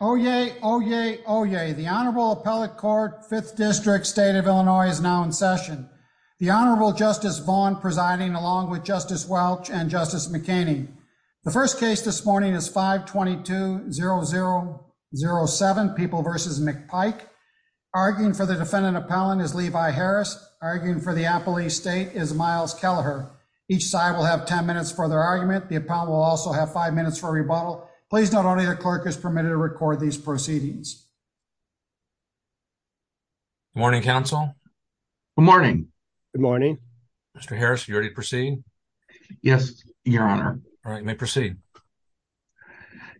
Oyez, oyez, oyez. The Honorable Appellate Court, 5th District, State of Illinois is now in session. The Honorable Justice Vaughn presiding along with Justice Welch and Justice McEnany. The first case this morning is 522-0007, People v. McPike. Arguing for the defendant appellant is Levi Harris. Arguing for the appellee state is Miles Kelleher. Each side will have 10 minutes for their argument. The appellant will also have 5 minutes for a rebuttal. Please note only the clerk is permitted to record these proceedings. Good morning, counsel. Good morning. Good morning. Mr. Harris, are you ready to proceed? Yes, your honor. All right, you may proceed.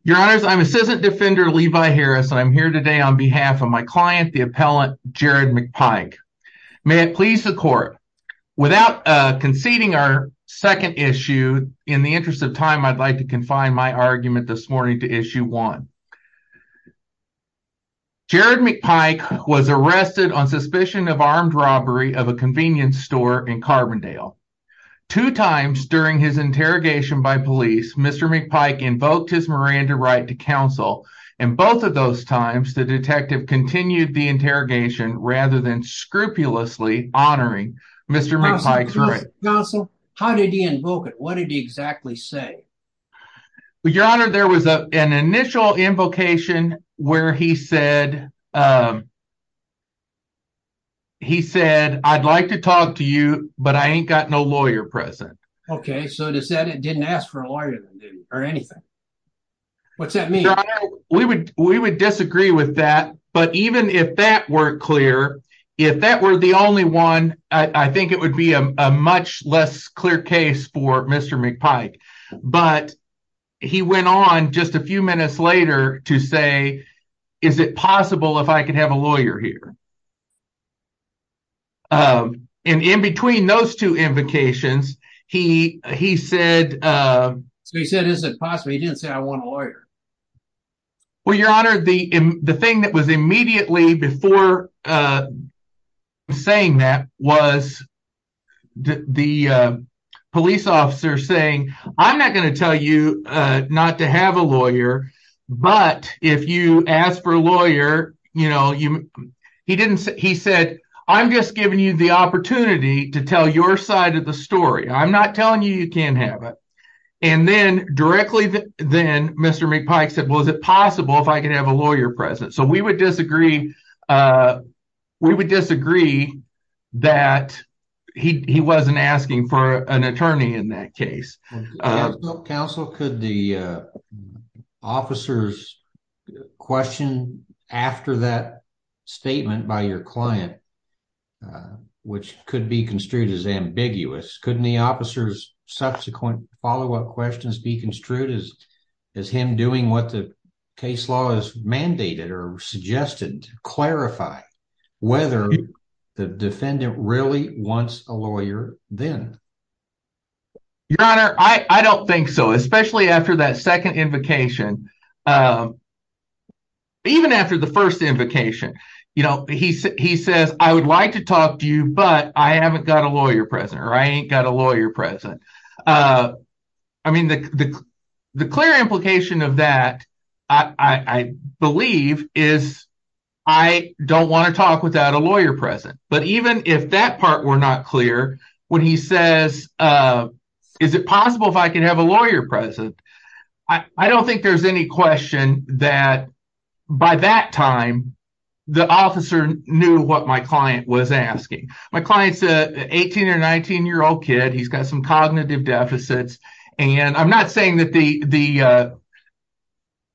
Your honors, I'm assistant defender Levi Harris and I'm here today on behalf of my client, the appellant Jared McPike. May it please the court, without conceding our second issue, in the interest of time, I'd like to confine my argument this morning to issue one. Jared McPike was arrested on suspicion of armed robbery of a convenience store in Carbondale. Two times during his interrogation by police, Mr. McPike invoked his Miranda right to counsel and both of those times the detective continued the interrogation rather than scrupulously honoring Mr. McPike's right. Counsel, how did he invoke it? What did he exactly say? Your honor, there was an initial invocation where he said, he said, I'd like to talk to you, but I ain't got no lawyer present. Okay, so it didn't ask for a lawyer or anything. What's that mean? We would disagree with that, but even if that weren't clear, if that were the only one, I think it would be a much less clear case for Mr. McPike, but he went on just a few minutes later to say, is it possible if I could have a lawyer here? And in between those two invocations, he said, so he said, is it possible? He didn't say I want a lawyer. Well, your honor, the thing that was immediately before saying that was the police officer saying, I'm not going to tell you not to have a lawyer, but if you ask for a lawyer, he said, I'm just giving you the opportunity to tell your side of the story. I'm not telling you you can't have it. And then directly then Mr. McPike said, well, is it possible if I could have a lawyer present? So we would disagree. We would disagree that he wasn't asking for an attorney in that case. Counsel, could the officers question after that statement by your client, uh, which could be construed as ambiguous? Couldn't the officers subsequent follow-up questions be construed as, as him doing what the case law has mandated or suggested to clarify whether the defendant really wants a lawyer then? Your honor, I don't think so. Especially after that second invocation, uh, even after the first invocation, you know, he, he says, I would like to talk to you, but I haven't got a lawyer present, or I ain't got a lawyer present. Uh, I mean, the, the, the clear implication of that, I, I believe is, I don't want to talk without a lawyer present, but even if that part were not clear when he says, uh, is it possible if I could have a lawyer present? I, I don't think there's any question that by that time, the officer knew what my client was asking. My client's a 18 or 19-year-old kid. He's got some cognitive deficits, and I'm not saying that the, the, uh,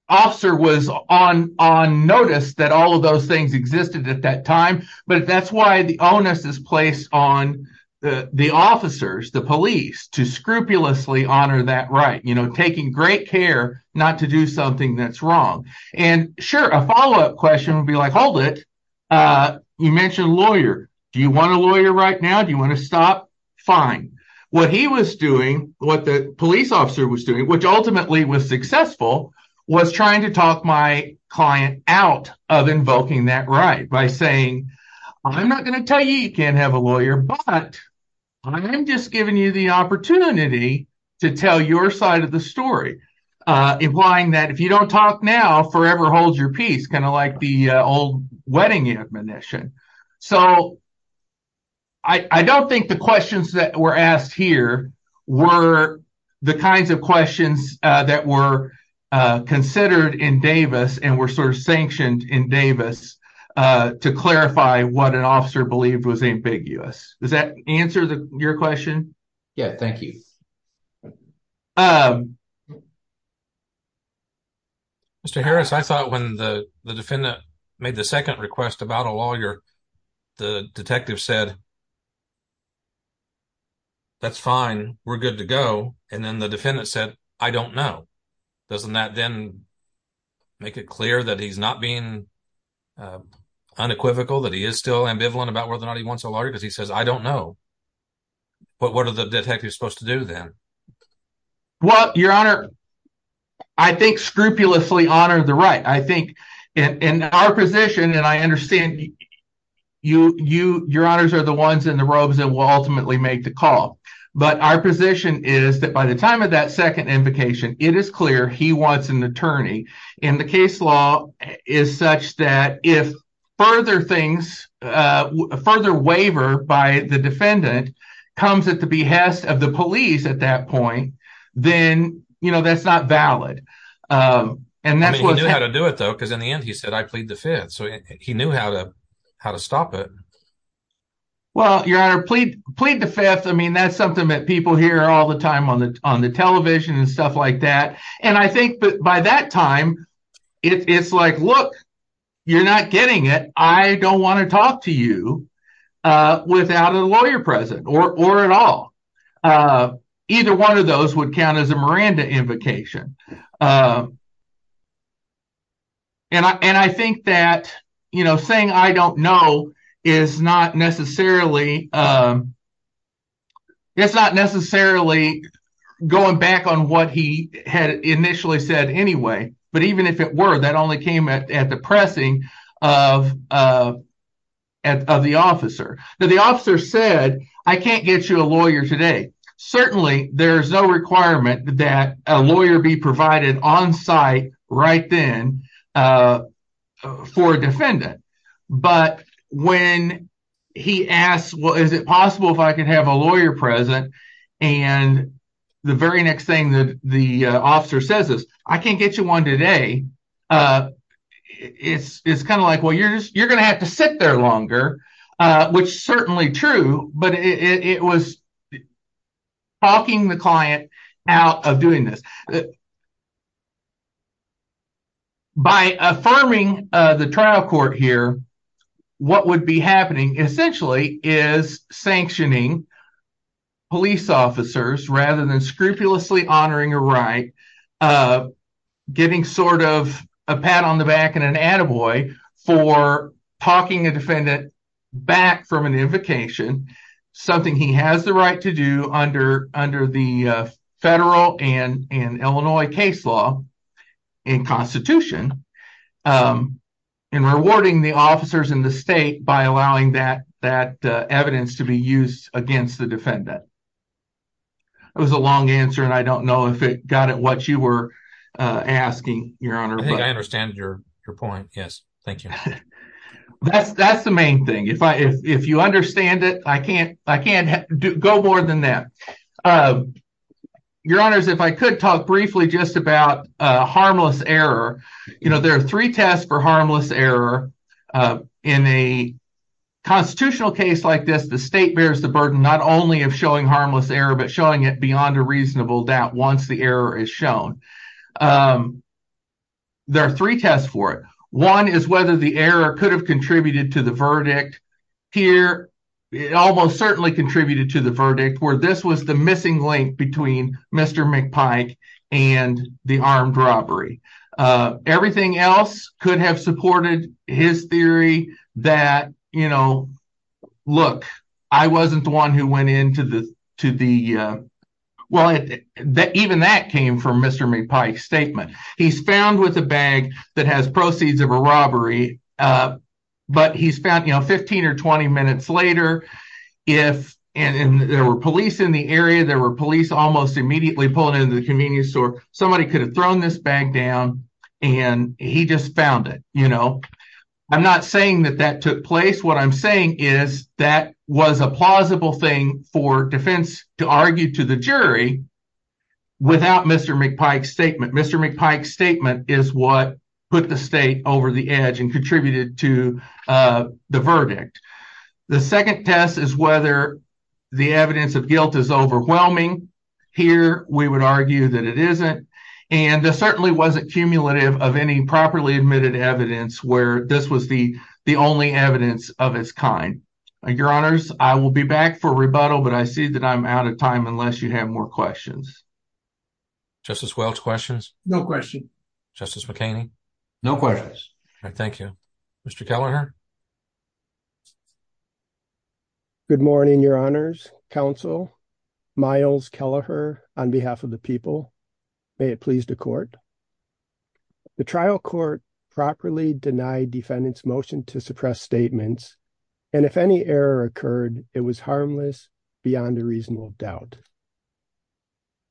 officer was on, on notice that all of those things existed at that time, but that's why the onus is placed on the, the officers, the police, to scrupulously honor that right, you know, taking great care not to do something that's wrong. And sure, a follow-up question would be like, hold it, uh, you mentioned lawyer. Do you want a lawyer right now? Do you want to stop? Fine. What he was doing, what the police officer was doing, which ultimately was successful, was trying to talk my client out of invoking that right by saying, I'm not going to tell you you can't have a lawyer, but I'm just giving you the opportunity to tell your side of the story, uh, implying that if you don't talk now, forever holds your peace, kind of like the, uh, old wedding admonition. So I, I don't think the questions that were asked here were the kinds of questions, uh, that were, uh, considered in Davis and were sort of sanctioned in Davis, uh, to clarify what an officer believed was ambiguous. Does that answer the, your question? Yeah, thank you. Um. Mr. Harris, I thought when the, the defendant made the second request about a lawyer, the detective said, that's fine, we're good to go. And then the defendant said, I don't know. Doesn't that then make it clear that he's not being, uh, unequivocal, that he is still ambivalent about whether or not he wants a lawyer? Because he says, I don't know. But what are the detectives supposed to do then? Well, your honor, I think scrupulously honor the right. I think in our position, and I understand you, you, your honors are the ones in the robes that will ultimately make the call. But our position is that by the time of that second invocation, it is clear he wants an attorney. And the case law is such that if further things, uh, further waiver by the defendant comes at the behest of the police at that point, then, you know, that's not valid. And that's what he knew how to do it though, because in the end he said, I plead the fifth. So I mean, that's something that people hear all the time on the television and stuff like that. And I think by that time, it's like, look, you're not getting it. I don't want to talk to you without a lawyer present, or at all. Either one of those would count as a Miranda invocation. Um, and I, and I think that, you know, saying I don't know is not necessarily, um, it's not necessarily going back on what he had initially said anyway, but even if it were, that only came at the pressing of, uh, of the officer. Now the officer said, I can't get you a lawyer today. Certainly there's no requirement that a lawyer be provided on site right then, uh, for a defendant. But when he asked, well, is it possible if I could have a lawyer present? And the very next thing that the officer says is, I can't get you one today. Uh, it's, it's kind of like, well, you're just, you're going to have to sit there longer, uh, which certainly true, but it was talking the client out of doing this. By affirming, uh, the trial court here, what would be happening essentially is sanctioning police officers rather than scrupulously honoring a right, uh, getting sort of a pat on the back and an attaboy for talking a defendant back from an invocation, something he has the right to do under, under the, uh, federal and, and Illinois case law and constitution, um, and rewarding the officers in the state by allowing that, that, uh, evidence to be used against the defendant. It was a long answer and I don't know if it got at what you were, uh, asking your honor. I think I understand your point. Yes. Thank you. That's, that's the main thing. If I, if you understand it, I can't, I can't go more than that. Uh, your honors, if I could talk briefly just about a harmless error, you know, there are three tests for harmless error, uh, in a constitutional case like this, the state bears the burden, not only of that once the error is shown, um, there are three tests for it. One is whether the error could have contributed to the verdict here. It almost certainly contributed to the verdict where this was the missing link between Mr. McPike and the armed robbery. Uh, everything else could have supported his theory that, you know, look, I wasn't the one who went into the, to the, well, even that came from Mr. McPike's statement. He's found with a bag that has proceeds of a robbery, uh, but he's found, you know, 15 or 20 minutes later, if, and there were police in the area, there were police almost immediately pulling into the convenience store, somebody could have thrown this bag down and he just found it, you know. I'm not saying that that took place. What I'm saying is that was a plausible thing for defense to argue to the jury without Mr. McPike's statement. Mr. McPike's statement is what put the state over the edge and contributed to, uh, the verdict. The second test is whether the evidence of guilt is overwhelming. Here we would argue that it isn't, and there certainly wasn't cumulative of any properly admitted evidence where this was the, the only evidence of its kind. Your honors, I will be back for rebuttal, but I see that I'm out of time unless you have more questions. Justice Welch, questions? No question. Justice McHaney? No questions. All right, thank you. Mr. Kelleher? Good morning, your honors, counsel. Miles Kelleher on behalf of the people. May it please the court. The trial court properly denied defendant's motion to suppress statements, and if any error occurred, it was harmless beyond a reasonable doubt.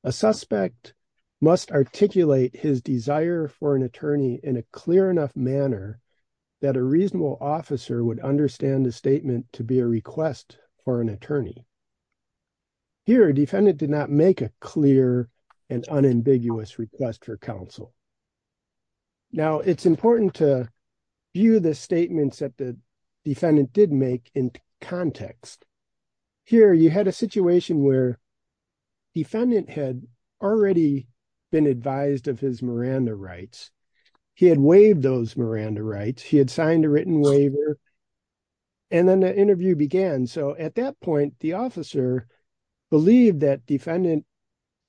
A suspect must articulate his desire for an attorney in a clear enough manner that a reasonable officer would understand the statement to be a request for an attorney. Here, defendant did not make a clear and unambiguous request for counsel. Now, it's important to view the statements that the defendant did make in context. Here, you had a situation where defendant had already been advised of his Miranda rights. He had waived those Miranda rights. He had signed a written waiver, and then the interview began. So, at that point, the officer believed that defendant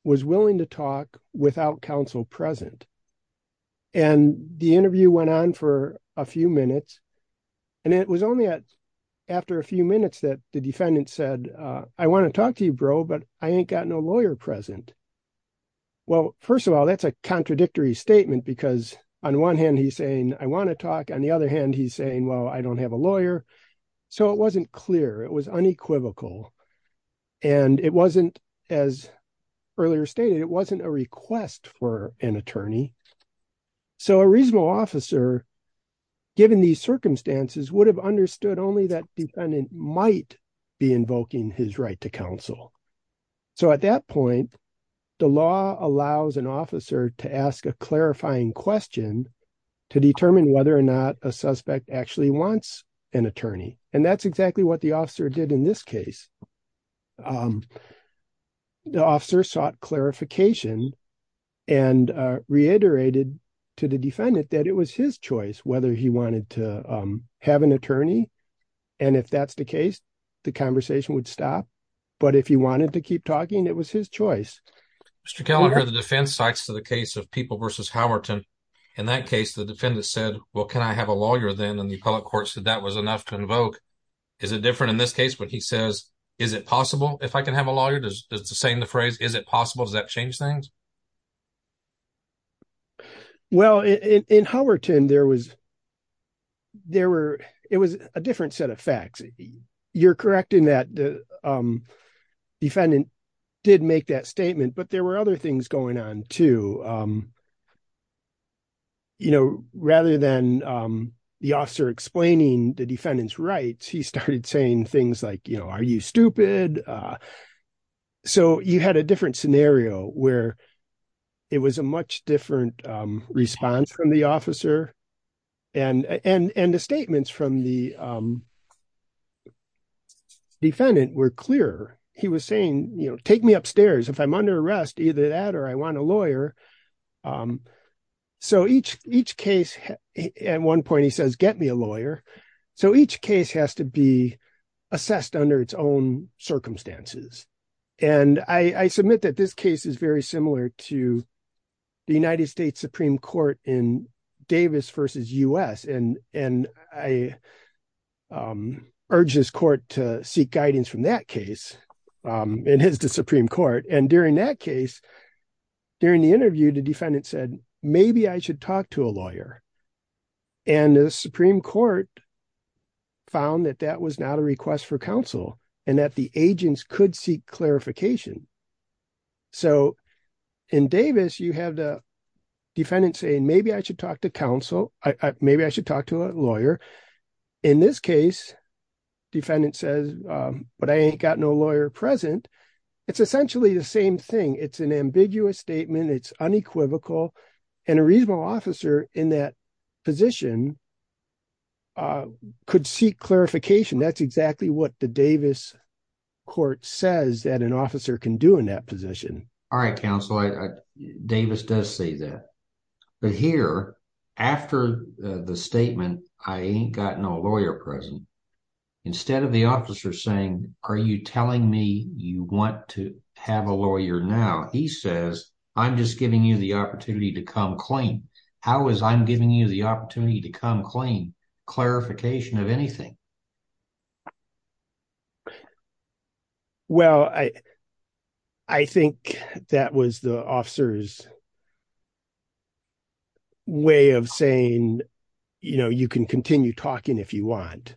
was willing to talk without counsel present, and the interview went on for a few minutes, and it was only after a few minutes that the defendant said, I want to talk to you, bro, but I ain't got no lawyer present. Well, first of all, that's a I want to talk. On the other hand, he's saying, well, I don't have a lawyer. So, it wasn't clear. It was unequivocal, and it wasn't, as earlier stated, it wasn't a request for an attorney. So, a reasonable officer, given these circumstances, would have understood only that defendant might be invoking his right to counsel. So, at that point, the law allows an officer to ask a clarifying question to determine whether or not a suspect actually wants an attorney, and that's exactly what the officer did in this case. The officer sought clarification and reiterated to the defendant that it was his choice whether he wanted to have an attorney, and if that's the case, the conversation would stop, but if he wanted to keep talking, it was his choice. Mr. Kelleher, the defense talks to the case of People v. Howerton. In that case, the defendant said, well, can I have a lawyer then, and the appellate court said that was enough to invoke. Is it different in this case when he says, is it possible if I can have a lawyer? Does the saying, the phrase, is it possible, does that change things? Well, in Howerton, there was, there were, it was a different set of facts. You're correct in that the defendant did make that statement, but there were other things going on too. You know, rather than the officer explaining the defendant's rights, he started saying things like, you know, are you stupid? So, you had a different scenario where it was a much different response from the officer, and the statements from the defendant were clearer. He was saying, you know, take me upstairs. If I'm under arrest, either that or I want a lawyer. So, each case, at one point, he says, get me a lawyer. So, each case has to be assessed under its own circumstances, and I submit that this case is very similar to the United States Supreme Court in Davis versus U.S., and I urge this court to seek guidance from that case, and hence the Supreme Court, and during that case, during the interview, the defendant said, maybe I should talk to a lawyer, and the Supreme Court found that that was not a request for counsel, and that the agents could seek clarification. So, in Davis, you have the I should talk to counsel. Maybe I should talk to a lawyer. In this case, defendant says, but I ain't got no lawyer present. It's essentially the same thing. It's an ambiguous statement. It's unequivocal, and a reasonable officer in that position could seek clarification. That's exactly what the Davis court says that an officer can do in that position. All right, counsel. Davis does say that, but here, after the statement, I ain't got no lawyer present, instead of the officer saying, are you telling me you want to have a lawyer now? He says, I'm just giving you the opportunity to come clean. How is I'm giving you the opportunity to come clean? Clarification of anything. Well, I think that was the officer's way of saying, you know, you can continue talking if you want.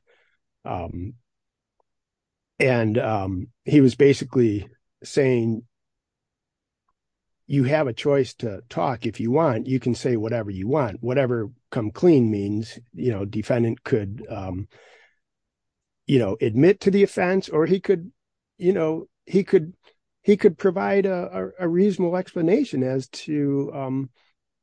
And he was basically saying, you have a choice to talk if you want. You can say whatever you want. Whatever come clean means, you know, defendant could, you know, admit to the offense, or he could, you know, he could provide a reasonable explanation as to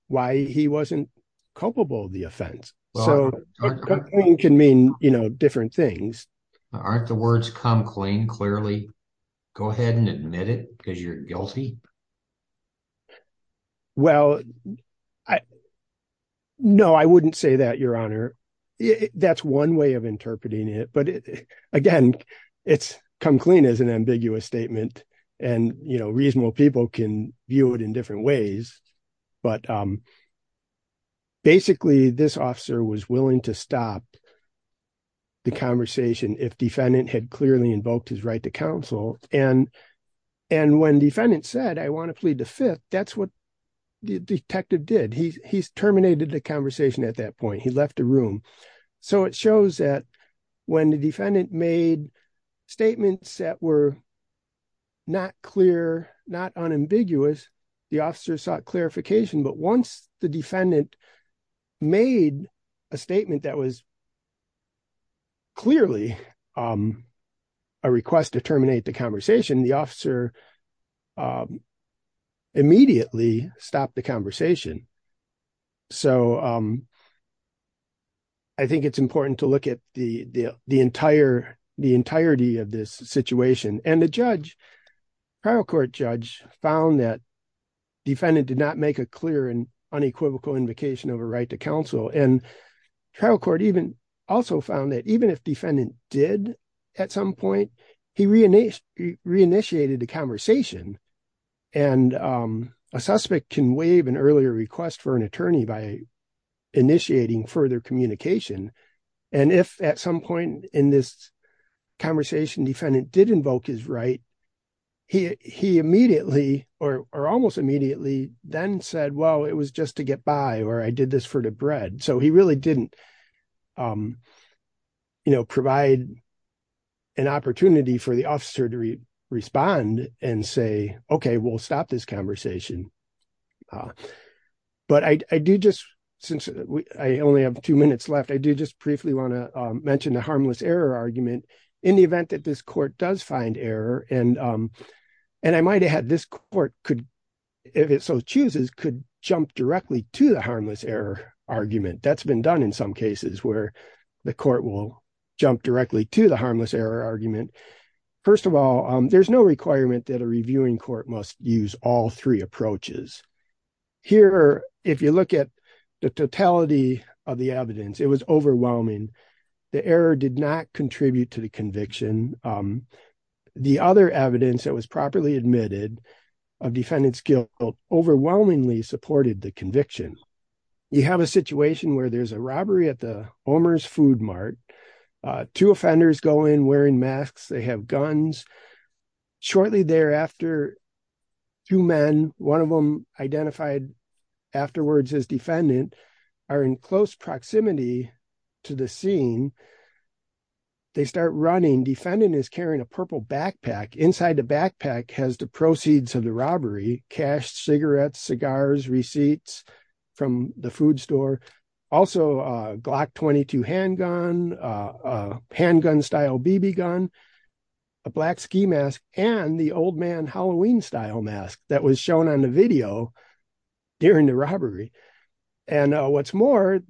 why he wasn't culpable of the offense. So come clean can mean, you know, different things. Aren't the words come clean clearly? Go ahead and admit it because you're guilty. Well, no, I wouldn't say that, your honor. That's one way of interpreting it. But again, it's come clean as an ambiguous statement. And, you know, reasonable people can view it in different ways. But basically, this officer was invoked his right to counsel. And when defendant said, I want to plead the fifth, that's what the detective did. He terminated the conversation at that point. He left the room. So it shows that when the defendant made statements that were not clear, not unambiguous, the officer sought clarification. But once the defendant made a statement that was clearly a request to terminate the conversation, the officer immediately stopped the conversation. So I think it's important to look at the entirety of this situation. And the judge, trial court judge, found that defendant did not make a clear and unequivocal invocation of a right to counsel. And trial court even also found that even if defendant did at some point, he reinitiated the conversation. And a suspect can waive an earlier request for an attorney by initiating further communication. And if at some point in this conversation defendant did invoke his right, he immediately or almost immediately then said, well, it was just to get by or I did this for the bread. So he really didn't provide an opportunity for the officer to respond and say, OK, we'll stop this conversation. But I do just, since I only have two minutes left, I do just briefly want to mention the harmless error argument in the event that this court does find error. And I might have had this court could, if it so chooses, could jump directly to the harmless error argument. That's been done in some cases where the court will jump directly to the harmless error argument. First of all, there's no requirement that a reviewing court must use all three approaches. Here, if you look at the totality of the evidence, it was overwhelming. The error did not contribute to the conviction. The other evidence that was properly admitted of defendant's guilt overwhelmingly supported the conviction. You have a situation where there's a robbery at the Omer's Food Mart. Two offenders go in wearing masks. They have guns. Shortly thereafter, two men, one of them identified afterwards as defendant, are in close proximity to the scene they start running. Defendant is carrying a purple backpack. Inside the backpack has the proceeds of the robbery, cash, cigarettes, cigars, receipts from the food store, also a Glock 22 handgun, handgun style BB gun, a black ski mask, and the old man Halloween style mask that was shown on the video during the robbery. And what's more,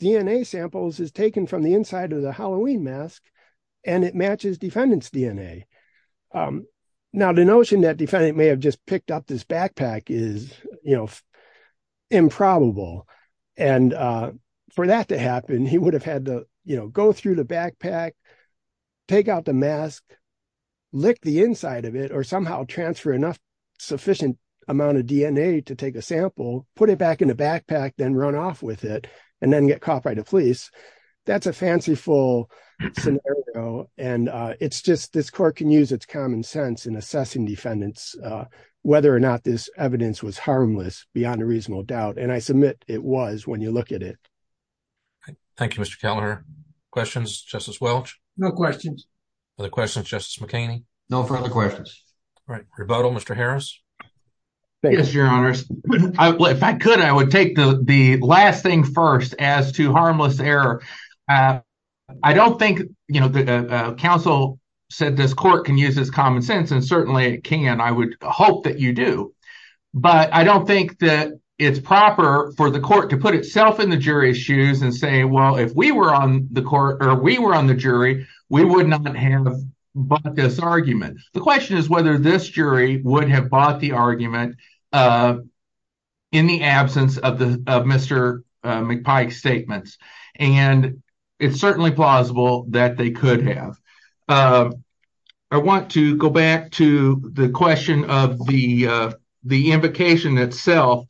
DNA samples is taken from the inside of the mask, and it matches defendant's DNA. Now, the notion that defendant may have just picked up this backpack is, you know, improbable. And for that to happen, he would have had to, you know, go through the backpack, take out the mask, lick the inside of it, or somehow transfer enough sufficient amount of DNA to take a sample, put it back in the backpack, then run off with it, and then get it back to the police. That's a fanciful scenario, and it's just, this court can use its common sense in assessing defendants, whether or not this evidence was harmless, beyond a reasonable doubt, and I submit it was when you look at it. Thank you, Mr. Kellner. Questions, Justice Welch? No questions. Other questions, Justice McKinney? No further questions. All right, Mr. Harris? Yes, Your Honors. If I could, I would take the last thing first as to harmless error. I don't think, you know, the counsel said this court can use its common sense, and certainly it can. I would hope that you do. But I don't think that it's proper for the court to put itself in the jury's shoes and say, well, if we were on the court, or we were on the jury, we would not have bought this argument. The question is whether this jury would have bought the argument in the absence of Mr. McPike's statements, and it's certainly plausible that they could have. I want to go back to the question of the invocation itself.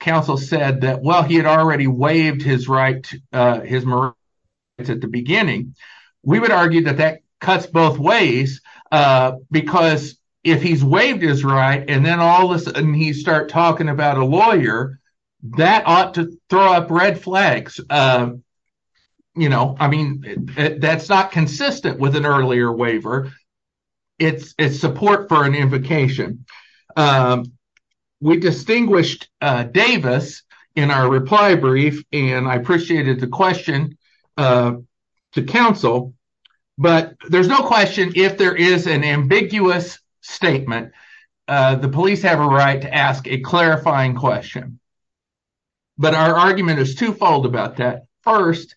Counsel said that while he had already waived his right at the beginning, we would argue that that cuts both ways, because if he's waived his right, and then all of a sudden he starts talking about a lawyer, that ought to throw up red flags. You know, I mean, that's not consistent with an earlier waiver. It's support for an invocation. We distinguished Davis in our reply brief, and I appreciated the question to counsel, but there's no question if there is an ambiguous statement, the police have a right to ask a clarifying question. But our argument is twofold about that. First,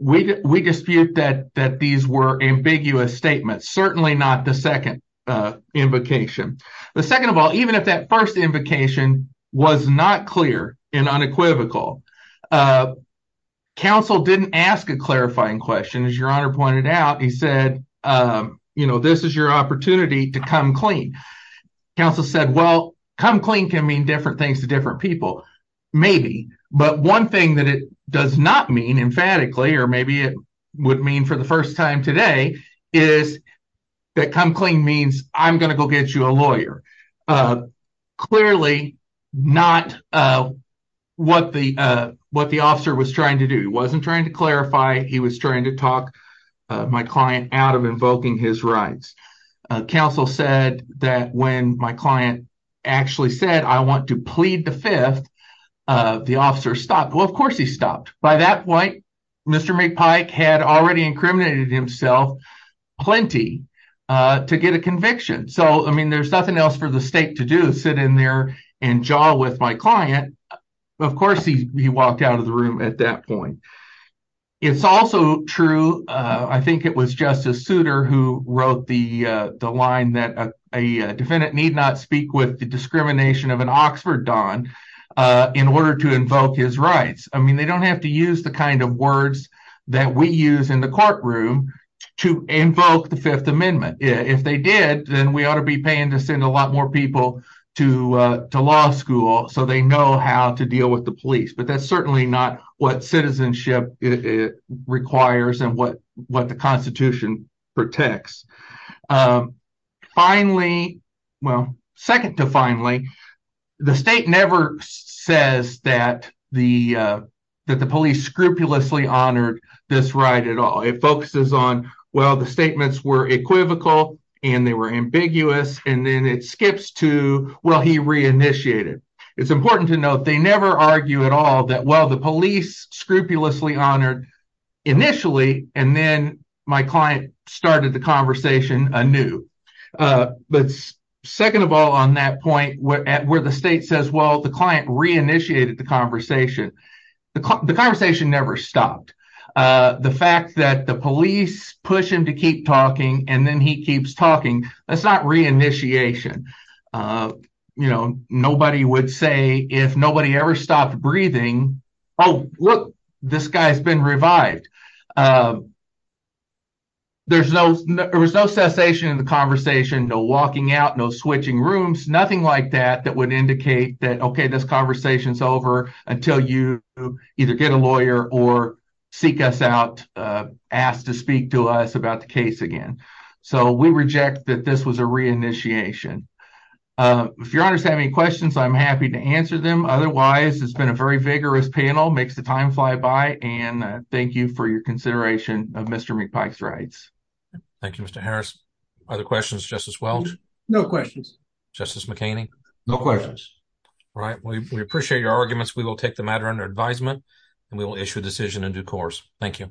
we dispute that these were ambiguous statements, certainly not the second invocation. The second of all, even if that first invocation was not clear and unequivocal, counsel didn't ask a clarifying question. As your honor pointed out, he said, you know, this is your opportunity to come clean. Counsel said, well, come clean can mean different things to different people, maybe. But one thing that it does not mean emphatically, or maybe it would mean for the first time today, is that come clean means I'm going to go get you a lawyer. Clearly, not what the officer was trying to do. He wasn't trying to clarify, he was trying to talk my client out of invoking his rights. Counsel said that when my client actually said I want to plead the fifth, the officer stopped. Well, of course he stopped. By that point, Mr. McPike had already incriminated himself plenty to get a conviction. So, I mean, there's nothing else for the state to do, sit in there and jaw with my client. Of course, he walked out of the room at that point. It's also true, I think it was Justice Souter who wrote the line that a defendant need not speak with the discrimination of an Oxford Don in order to invoke his rights. I mean, they don't have to use the kind of words that we use in the courtroom to invoke the Fifth Amendment. If they did, then we ought to be paying to send a lot more people to law school so they know how to deal with the police. But that's not the case. Finally, well, second to finally, the state never says that the police scrupulously honored this right at all. It focuses on, well, the statements were equivocal and they were ambiguous and then it skips to, well, he reinitiated. It's important to note they never argue at all that, well, the police scrupulously honored initially and then my conversation anew. But second of all, on that point, where the state says, well, the client reinitiated the conversation, the conversation never stopped. The fact that the police push him to keep talking and then he keeps talking, that's not reinitiation. Nobody would say if nobody ever stopped breathing, oh, look, this guy's been revived. There was no cessation in the conversation, no walking out, no switching rooms, nothing like that that would indicate that, okay, this conversation's over until you either get a lawyer or seek us out, ask to speak to us about the case again. So we reject that this was a reinitiation. If your honors have any questions, I'm happy to answer them. Otherwise, it's been a very vigorous panel, makes the time fly by, and thank you for your consideration of Mr. McPike's rights. Thank you, Mr. Harris. Other questions, Justice Welch? No questions. Justice McKinney? No questions. All right, we appreciate your arguments. We will take the matter under advisement and we will issue a decision in due course. Thank you.